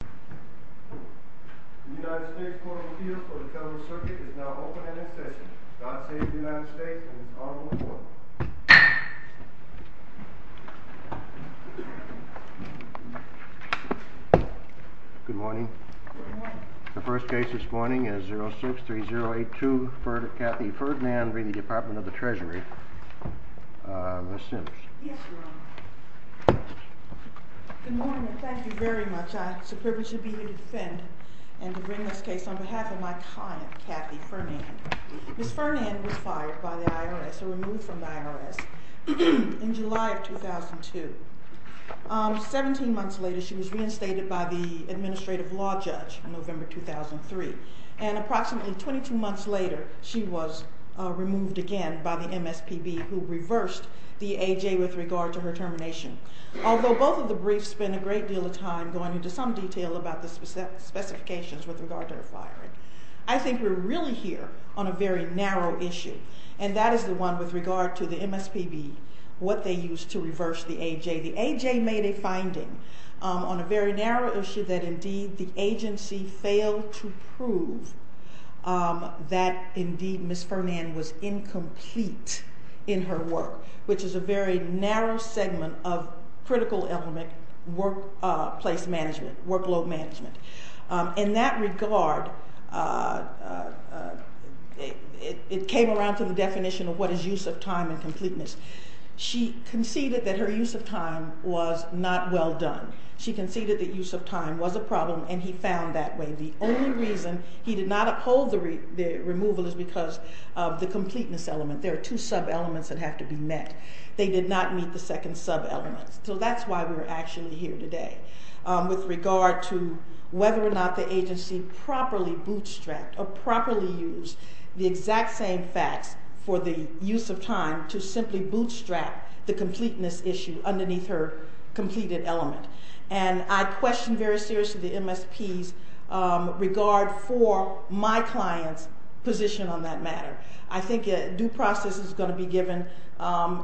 The United States Court of Appeals for the Federal Circuit is now open and in session. God save the United States and its Honorable Court. Good morning. Good morning. The first case this morning is 06-3082 Cathy Ferdinand v. Department of the Treasury. Ms. Simms. Yes, Your Honor. Good morning and thank you very much. It's a privilege to be here to defend and to bring this case on behalf of my client Cathy Ferdinand. Ms. Ferdinand was fired by the IRS or removed from the IRS in July of 2002. 17 months later she was reinstated by the Administrative Law Judge in November 2003. And approximately 22 months later she was removed again by the MSPB who reversed the AJ with regard to her termination. Although both of the briefs spend a great deal of time going into some detail about the specifications with regard to her firing. I think we're really here on a very narrow issue and that is the one with regard to the MSPB, what they used to reverse the AJ. The AJ made a finding on a very narrow issue that indeed the agency failed to prove that indeed Ms. Ferdinand was incomplete in her work, which is a very narrow segment of critical element workplace management, workload management. In that regard it came around to the definition of what is use of time and completeness. She conceded that her use of time was not well done. She conceded that use of time was a problem and he found that way. The only reason he did not uphold the removal is because of the completeness element. There are two sub elements that have to be met. They did not meet the second sub element. So that's why we're actually here today with regard to whether or not the agency properly bootstrapped or properly used the exact same facts for the use of time to simply bootstrap the completeness issue underneath her completed element. I question very seriously the MSP's regard for my client's position on that matter. I think a due process is going to be given.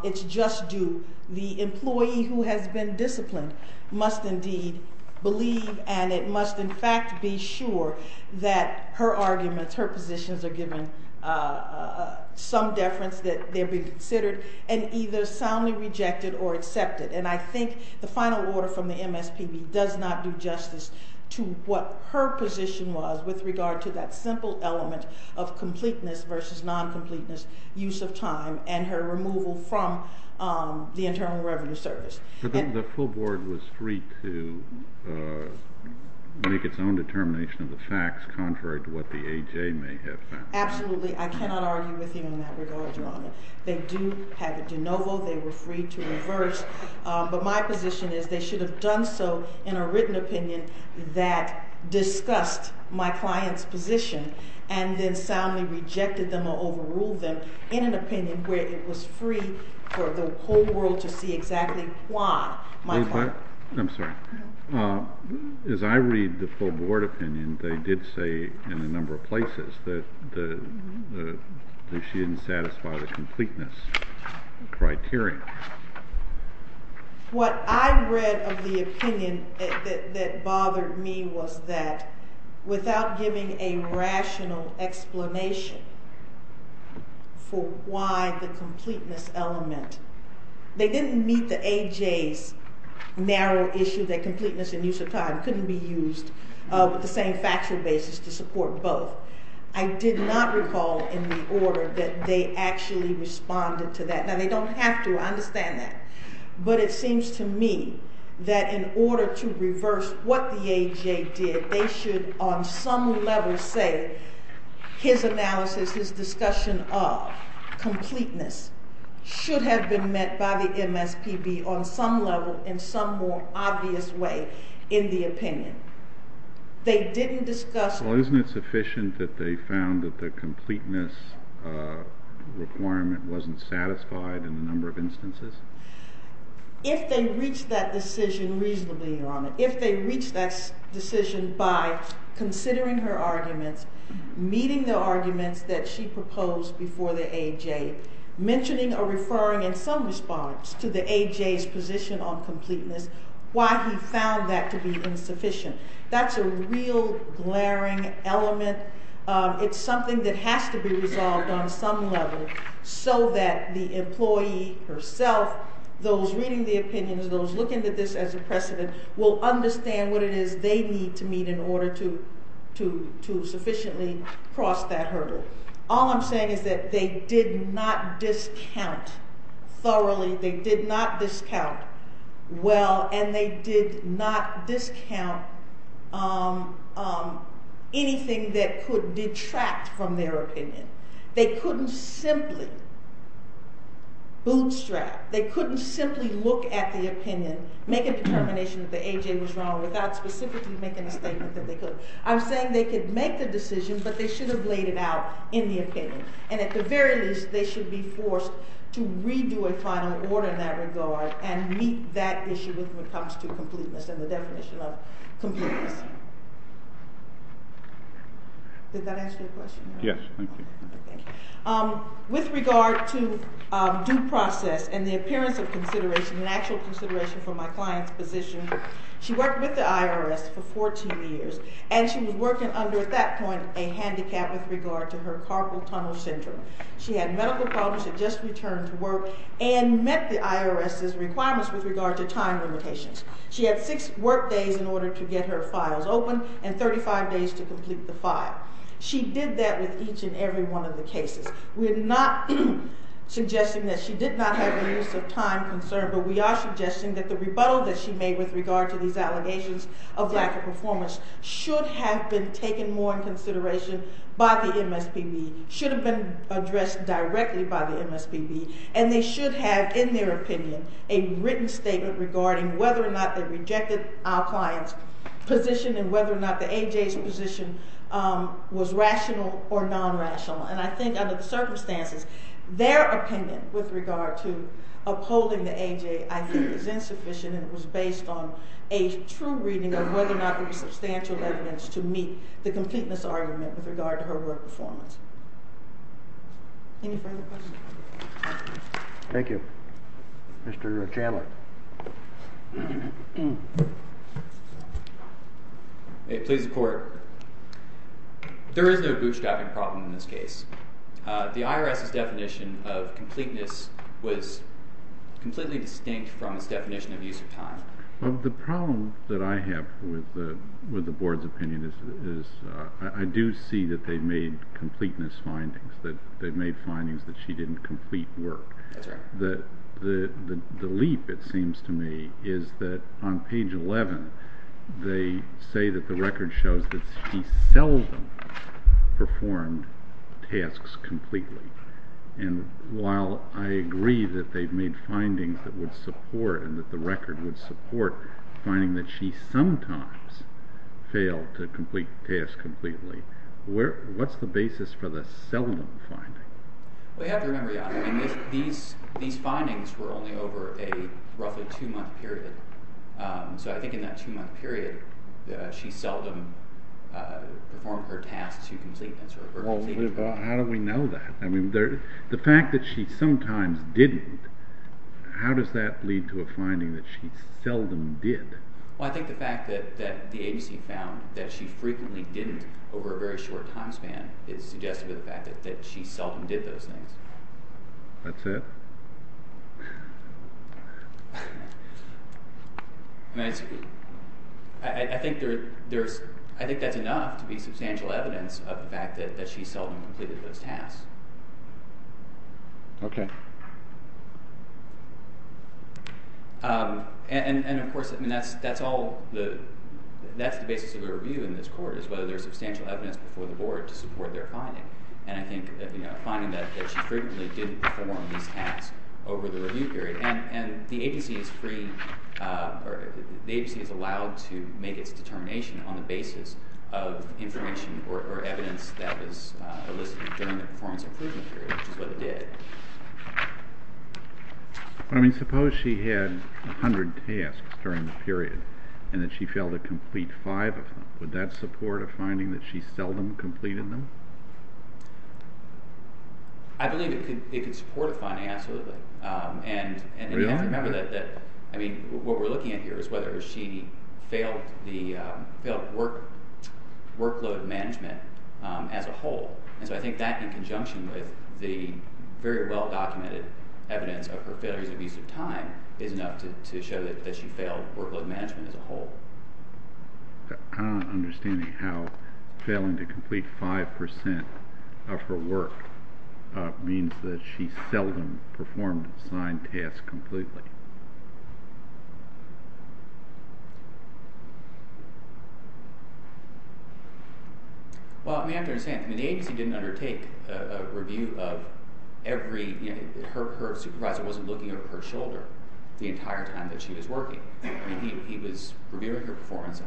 It's just due. The employee who has been disciplined must indeed believe and it must in fact be sure that her arguments, her positions are given some deference that they be considered and either soundly rejected or accepted. And I think the final order from the MSPB does not do justice to what her position was with regard to that simple element of completeness versus non-completeness use of time and her removal from the Internal Revenue Service. The full board was free to make its own determination of the facts contrary to what the AJ may have found. Absolutely. I cannot argue with you in that regard, Your Honor. They do have a de novo. They were free to reverse. But my position is they should have done so in a written opinion that discussed my client's position and then soundly rejected them or overruled them in an opinion where it was free for the whole world to see exactly why my client. I'm sorry. As I read the full board opinion, they did say in a number of places that she didn't satisfy the completeness criteria. What I read of the opinion that bothered me was that without giving a rational explanation for why the completeness element, they didn't meet the AJ's narrow issue that completeness and use of time couldn't be used with the same factual basis to support both. I did not recall in the order that they actually responded to that. Now, they don't have to. I understand that. But it seems to me that in order to reverse what the AJ did, they should on some level say his analysis, his discussion of completeness, should have been met by the MSPB on some level in some more obvious way in the opinion. They didn't discuss... Well, isn't it sufficient that they found that the completeness requirement wasn't satisfied in a number of instances? If they reached that decision reasonably, Your Honor, if they reached that decision by considering her arguments, meeting the arguments that she proposed before the AJ, mentioning or referring in some response to the AJ's position on completeness why he found that to be insufficient, that's a real glaring element. It's something that has to be resolved on some level so that the employee herself, those reading the opinions, those looking at this as a precedent, will understand what it is they need to meet in order to sufficiently cross that hurdle. All I'm saying is that they did not discount thoroughly, they did not discount well, and they did not discount anything that could detract from their opinion. They couldn't simply bootstrap, they couldn't simply look at the opinion, make a determination that the AJ was wrong without specifically making a statement that they could. I'm saying they could make the decision, but they should have laid it out in the opinion. And at the very least, they should be forced to redo a final order in that regard and meet that issue when it comes to completeness and the definition of completeness. Did that answer your question, Your Honor? Yes, thank you. With regard to due process and the appearance of consideration and actual consideration for my client's position, she worked with the IRS for 14 years, and she was working under, at that point, a handicap with regard to her carpal tunnel syndrome. She had medical problems, had just returned to work, and met the IRS's requirements with regard to time limitations. She had six work days in order to get her files open and 35 days to complete the file. She did that with each and every one of the cases. We're not suggesting that she did not have the use of time concern, but we are suggesting that the rebuttal that she made with regard to these allegations of lack of performance should have been taken more in consideration by the MSPB, should have been addressed directly by the MSPB, and they should have, in their opinion, a written statement regarding whether or not they rejected our client's position and whether or not the AJ's position was rational or non-rational. And I think, under the circumstances, their opinion with regard to upholding the AJ, I think, is insufficient, and it was based on a true reading of whether or not there was substantial evidence to meet the completeness argument with regard to her work performance. Any further questions? Thank you. Mr. Chandler. May it please the Court. There is no bootstrapping problem in this case. The IRS's definition of completeness was completely distinct from its definition of use of time. Well, the problem that I have with the Board's opinion is I do see that they made completeness findings, that they made findings that she didn't complete work. That's right. The leap, it seems to me, is that on page 11, they say that the record shows that she seldom performed tasks completely. And while I agree that they've made findings that would support and that the record would support finding that she sometimes failed to complete tasks completely, what's the basis for the seldom finding? Well, you have to remember, Your Honor, these findings were only over a roughly two-month period. So I think in that two-month period, she seldom performed her tasks to completeness. Well, how do we know that? I mean, the fact that she sometimes didn't, how does that lead to a finding that she seldom did? Well, I think the fact that the agency found that she frequently didn't over a very short time span is suggested by the fact that she seldom did those things. That's it? I think that's enough to be substantial evidence of the fact that she seldom completed those tasks. Okay. And, of course, that's the basis of the review in this court, is whether there's substantial evidence before the board to support their finding. And I think that finding that she frequently didn't perform these tasks over the review period. And the agency is allowed to make its determination on the basis of information or evidence that was elicited during the performance improvement period, which is what it did. I mean, suppose she had 100 tasks during the period and that she failed to complete five of them. Would that support a finding that she seldom completed them? I believe it could support a finding, absolutely. Really? I mean, what we're looking at here is whether she failed workload management as a whole. And so I think that, in conjunction with the very well-documented evidence of her failures and abuse of time, is enough to show that she failed workload management as a whole. I'm not understanding how failing to complete 5 percent of her work means that she seldom performed assigned tasks completely. Well, I mean, I understand. I mean, the agency didn't undertake a review of every – her supervisor wasn't looking over her shoulder the entire time that she was working. I mean, he was reviewing her performance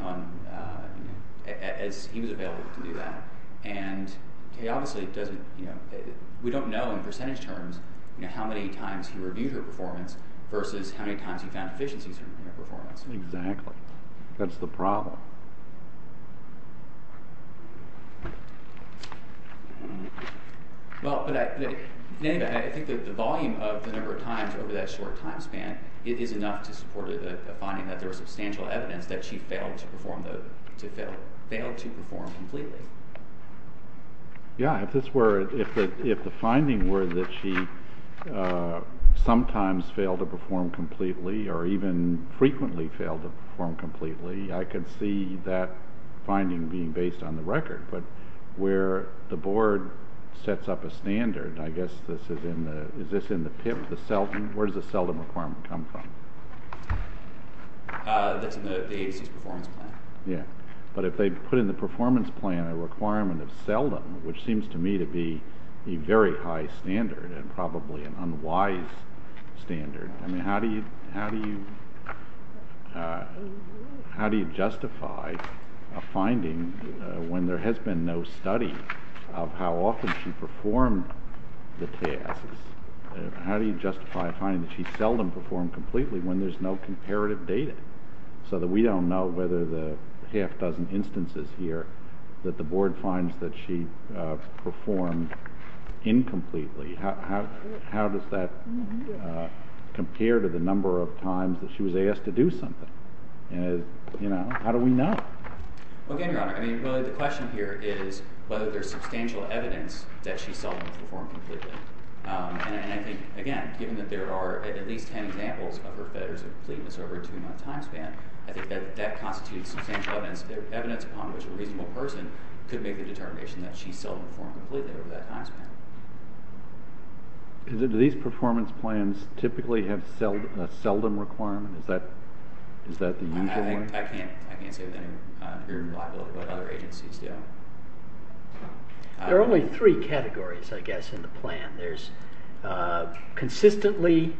as he was available to do that. And he obviously doesn't – we don't know in percentage terms how many times he reviewed her performance versus how many times he found efficiencies in her performance. Exactly. That's the problem. Well, but anyway, I think that the volume of the number of times over that short time span is enough to support a finding that there was substantial evidence that she failed to perform completely. Yeah, if this were – if the finding were that she sometimes failed to perform completely or even frequently failed to perform completely, I could see that finding being based on the record. But where the board sets up a standard – I guess this is in the – is this in the PIP, the seldom – where does the seldom requirement come from? That's in the agency's performance plan. Yeah. But if they put in the performance plan a requirement of seldom, which seems to me to be a very high standard and probably an unwise standard, I mean, how do you justify a finding when there has been no study of how often she performed the tasks? How do you justify a finding that she seldom performed completely when there's no comparative data so that we don't know whether the half-dozen instances here that the board finds that she performed incompletely, how does that compare to the number of times that she was asked to do something? And, you know, how do we know? Well, again, Your Honor, I mean, really the question here is whether there's substantial evidence that she seldom performed completely. And I think, again, given that there are at least ten examples of her failures of completeness over a two-month time span, I think that that constitutes substantial evidence upon which a reasonable person could make the determination that she seldom performed completely over that time span. Do these performance plans typically have a seldom requirement? Is that the usual one? I can't say with any fear and liability what other agencies do. There are only three categories, I guess, in the plan. There's consistently,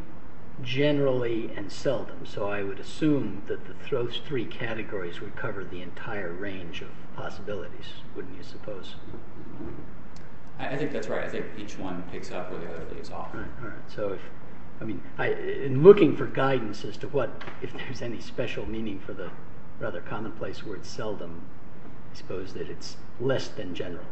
generally, and seldom. So I would assume that those three categories would cover the entire range of possibilities, wouldn't you suppose? I think that's right. I think each one picks up where the other leaves off. All right. So, I mean, in looking for guidance as to what, if there's any special meaning for the rather commonplace word seldom, I suppose that it's less than generally.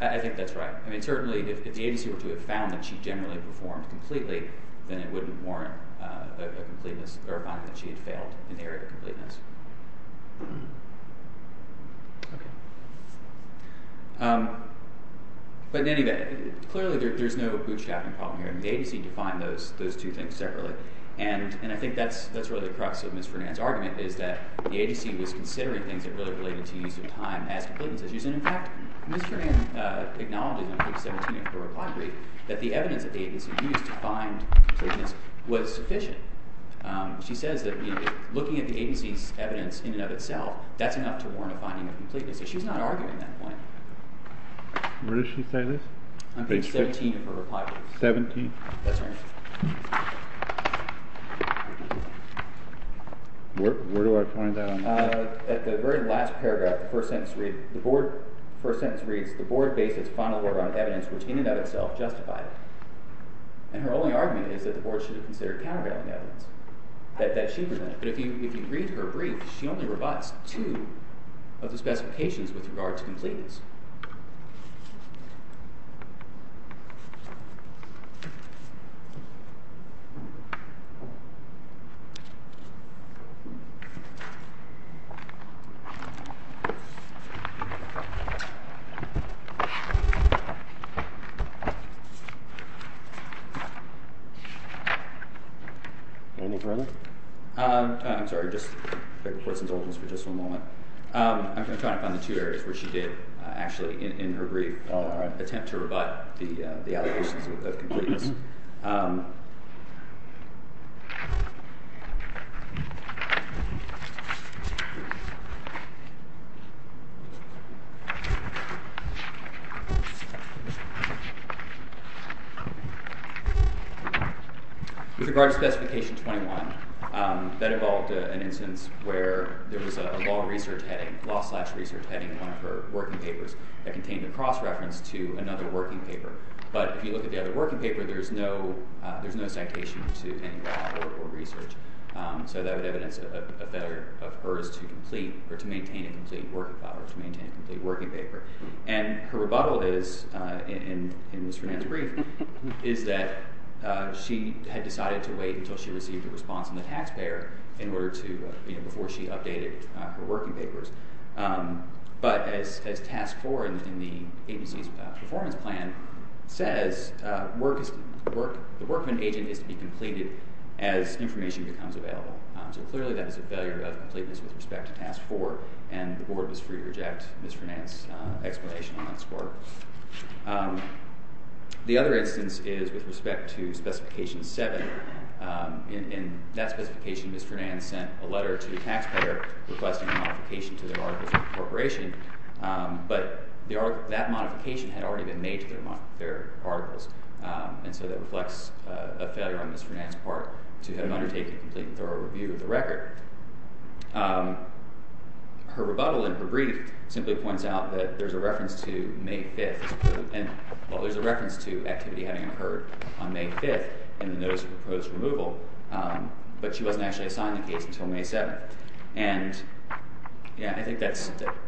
I think that's right. Certainly, if the agency were to have found that she generally performed completely, then it wouldn't warrant a finding that she had failed in the area of completeness. But in any event, clearly there's no bootstrapping problem here. The agency defined those two things separately. And I think that's really the crux of Ms. Fernand's argument, is that the agency was considering things that really related to use of time as completeness issues. And, in fact, Ms. Fernand acknowledged in page 17 of her reply brief that the evidence that the agency used to find completeness was sufficient. She says that looking at the agency's evidence in and of itself, that's enough to warrant a finding of completeness. So she's not arguing that point. Where does she say this? Page 17 of her reply brief. 17? That's right. Where do I point out? At the very last paragraph, the first sentence reads, the board based its final work on evidence which in and of itself justified it. And her only argument is that the board should have considered countervailing evidence, that she presented. But if you read her brief, she only revised two of the specifications with regard to completeness. Any questions? Anything further? I'm sorry. I'm just going to report some documents for just one moment. I'm going to try to find the two areas where she did actually in her brief attempt to rebut the allegations of completeness. With regard to Specification 21, that involved an instance where there was a law research heading, a law slash research heading in one of her working papers that contained a cross-reference to another working paper. But if you look at the other working paper, there's no citation to any of that work or research. So that would evidence that a better of hers to complete or to maintain a complete work file or to maintain a complete working paper. And her rebuttal is, in Ms. Fernandez's brief, is that she had decided to wait until she received a response from the taxpayer before she updated her working papers. But as Task 4 in the agency's performance plan says, the work of an agent is to be completed as information becomes available. So clearly that is a failure of completeness with respect to Task 4, and the Board was free to reject Ms. Fernandez's explanation on that score. The other instance is with respect to Specification 7. In that specification, Ms. Fernandez sent a letter to the taxpayer requesting a modification to their articles of incorporation, but that modification had already been made to their articles, and so that reflects a failure on Ms. Fernandez's part to have undertaken a complete and thorough review of the record. Her rebuttal in her brief simply points out that there's a reference to May 5th, and there's a reference to activity having occurred on May 5th in the Notice of Proposed Removal, but she wasn't actually assigned the case until May 7th. And I think that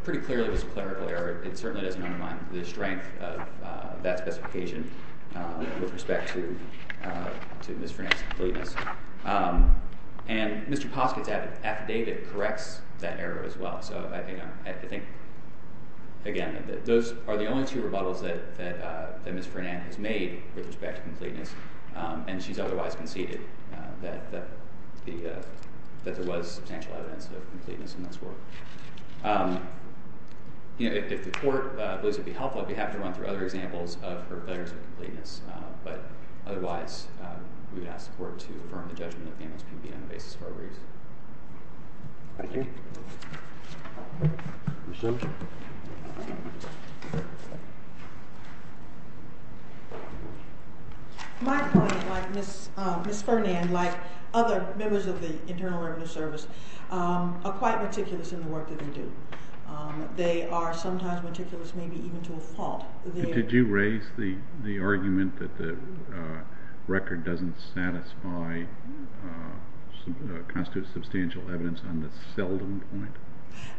pretty clearly was a clerical error. It certainly doesn't undermine the strength of that specification with respect to Ms. Fernandez's completeness. And Mr. Posket's affidavit corrects that error as well. So I think, again, that those are the only two rebuttals that Ms. Fernandez made with respect to completeness, and she's otherwise conceded that there was substantial evidence of completeness in that score. If the Court believes it would be helpful, we'd have to run through other examples of her failures of completeness, but otherwise we would ask the Court to affirm the judgment that payments can be made on the basis of our reason. Thank you. My point, like Ms. Fernandez, like other members of the Internal Revenue Service, are quite meticulous in the work that they do. They are sometimes meticulous maybe even to a fault. Did you raise the argument that the record doesn't satisfy or constitute substantial evidence on the seldom point?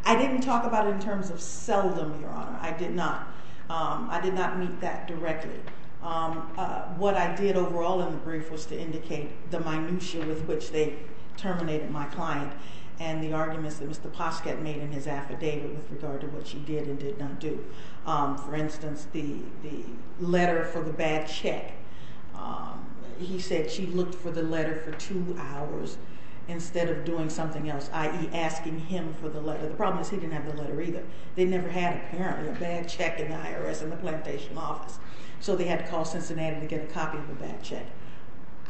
I didn't talk about it in terms of seldom, Your Honor. I did not. I did not meet that directly. What I did overall in the brief was to indicate the minutia with which they terminated my client and the arguments that Mr. Posket made in his affidavit with regard to what she did and did not do. For instance, the letter for the bad check. He said she looked for the letter for two hours instead of doing something else, i.e. asking him for the letter. The problem is he didn't have the letter either. They never had, apparently, a bad check in the IRS in the plantation office, so they had to call Cincinnati to get a copy of the bad check.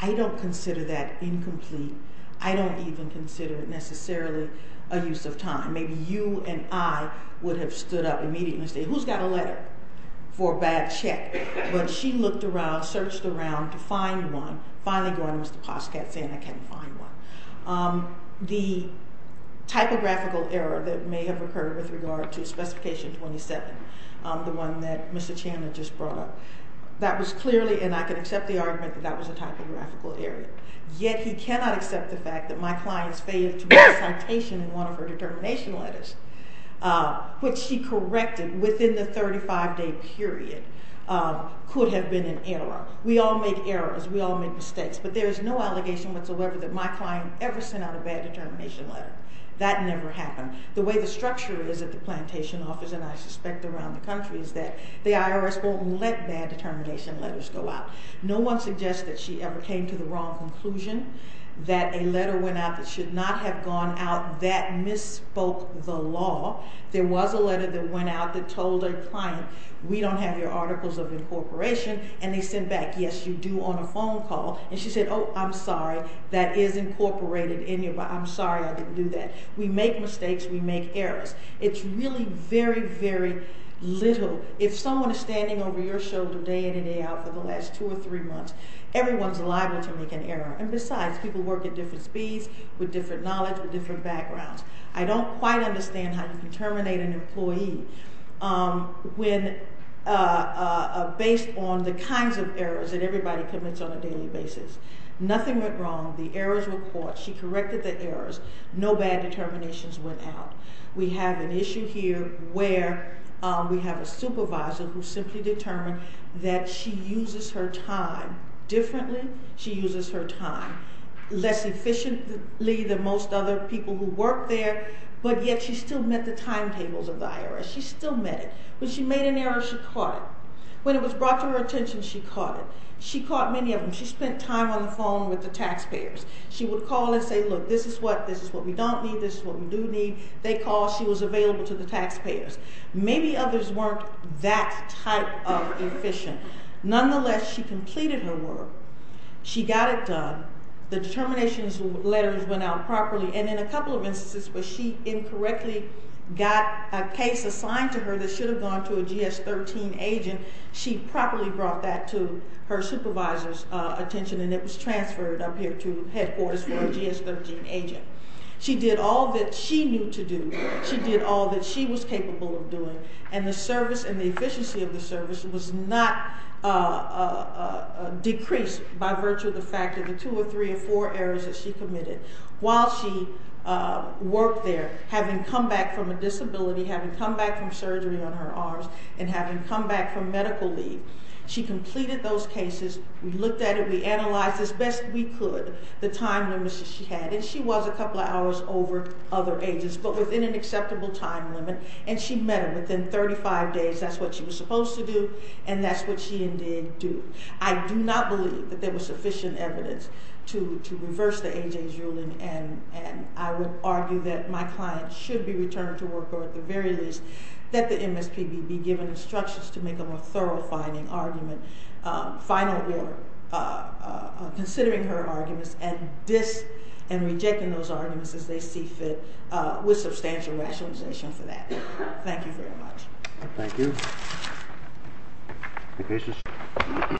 I don't consider that incomplete. I don't even consider it necessarily a use of time. Maybe you and I would have stood up immediately and said, Who's got a letter for a bad check? But she looked around, searched around to find one, finally going to Mr. Posket, saying, I can't find one. The typographical error that may have occurred with regard to Specification 27, the one that Mr. Chandler just brought up, that was clearly, and I can accept the argument, that that was a typographical error. Yet he cannot accept the fact that my client's failed to make a citation in one of her determination letters, which she corrected within the 35-day period, could have been an error. We all make errors, we all make mistakes, but there is no allegation whatsoever that my client ever sent out a bad determination letter. That never happened. The way the structure is at the plantation office, and I suspect around the country, is that the IRS won't let bad determination letters go out. No one suggests that she ever came to the wrong conclusion, that a letter went out that should not have gone out, that misspoke the law. There was a letter that went out that told her client, we don't have your articles of incorporation, and they sent back, yes, you do, on a phone call. And she said, oh, I'm sorry, that is incorporated in your, but I'm sorry I didn't do that. We make mistakes, we make errors. It's really very, very little. If someone is standing over your shoulder, day in and day out, for the last two or three months, everyone's liable to make an error. And besides, people work at different speeds, with different knowledge, with different backgrounds. I don't quite understand how you can terminate an employee based on the kinds of errors that everybody commits on a daily basis. Nothing went wrong. The errors were caught. She corrected the errors. No bad determinations went out. We have an issue here where we have a supervisor who simply determined that she uses her time differently. She uses her time less efficiently than most other people who work there, but yet she still met the timetables of the IRS. She still met it. When she made an error, she caught it. When it was brought to her attention, she caught it. She caught many of them. She spent time on the phone with the taxpayers. She would call and say, look, this is what we don't need, this is what we do need. They called, she was available to the taxpayers. Maybe others weren't that type of efficient. Nonetheless, she completed her work. She got it done. The determinations letters went out properly, and in a couple of instances where she incorrectly got a case assigned to her that should have gone to a GS-13 agent, she properly brought that to her supervisor's attention and it was transferred up here to headquarters for a GS-13 agent. She did all that she knew to do. She did all that she was capable of doing, and the service and the efficiency of the service was not decreased by virtue of the fact of the two or three or four errors that she committed. While she worked there, having come back from a disability, having come back from surgery on her arms, and having come back from medical leave, she completed those cases. We looked at it, we analyzed as best we could the time limits that she had, and she was a couple of hours over other agents, but within an acceptable time limit, and she met her within 35 days, that's what she was supposed to do, and that's what she indeed did. I do not believe that there was sufficient evidence to reverse the A.J.'s ruling, and I would argue that my client should be returned to work, or at the very least, that the MSPB be given instructions to make a more thorough finding argument, final word, considering her arguments, and rejecting those arguments as they see fit with substantial rationalization for that. Thank you very much. Thank you.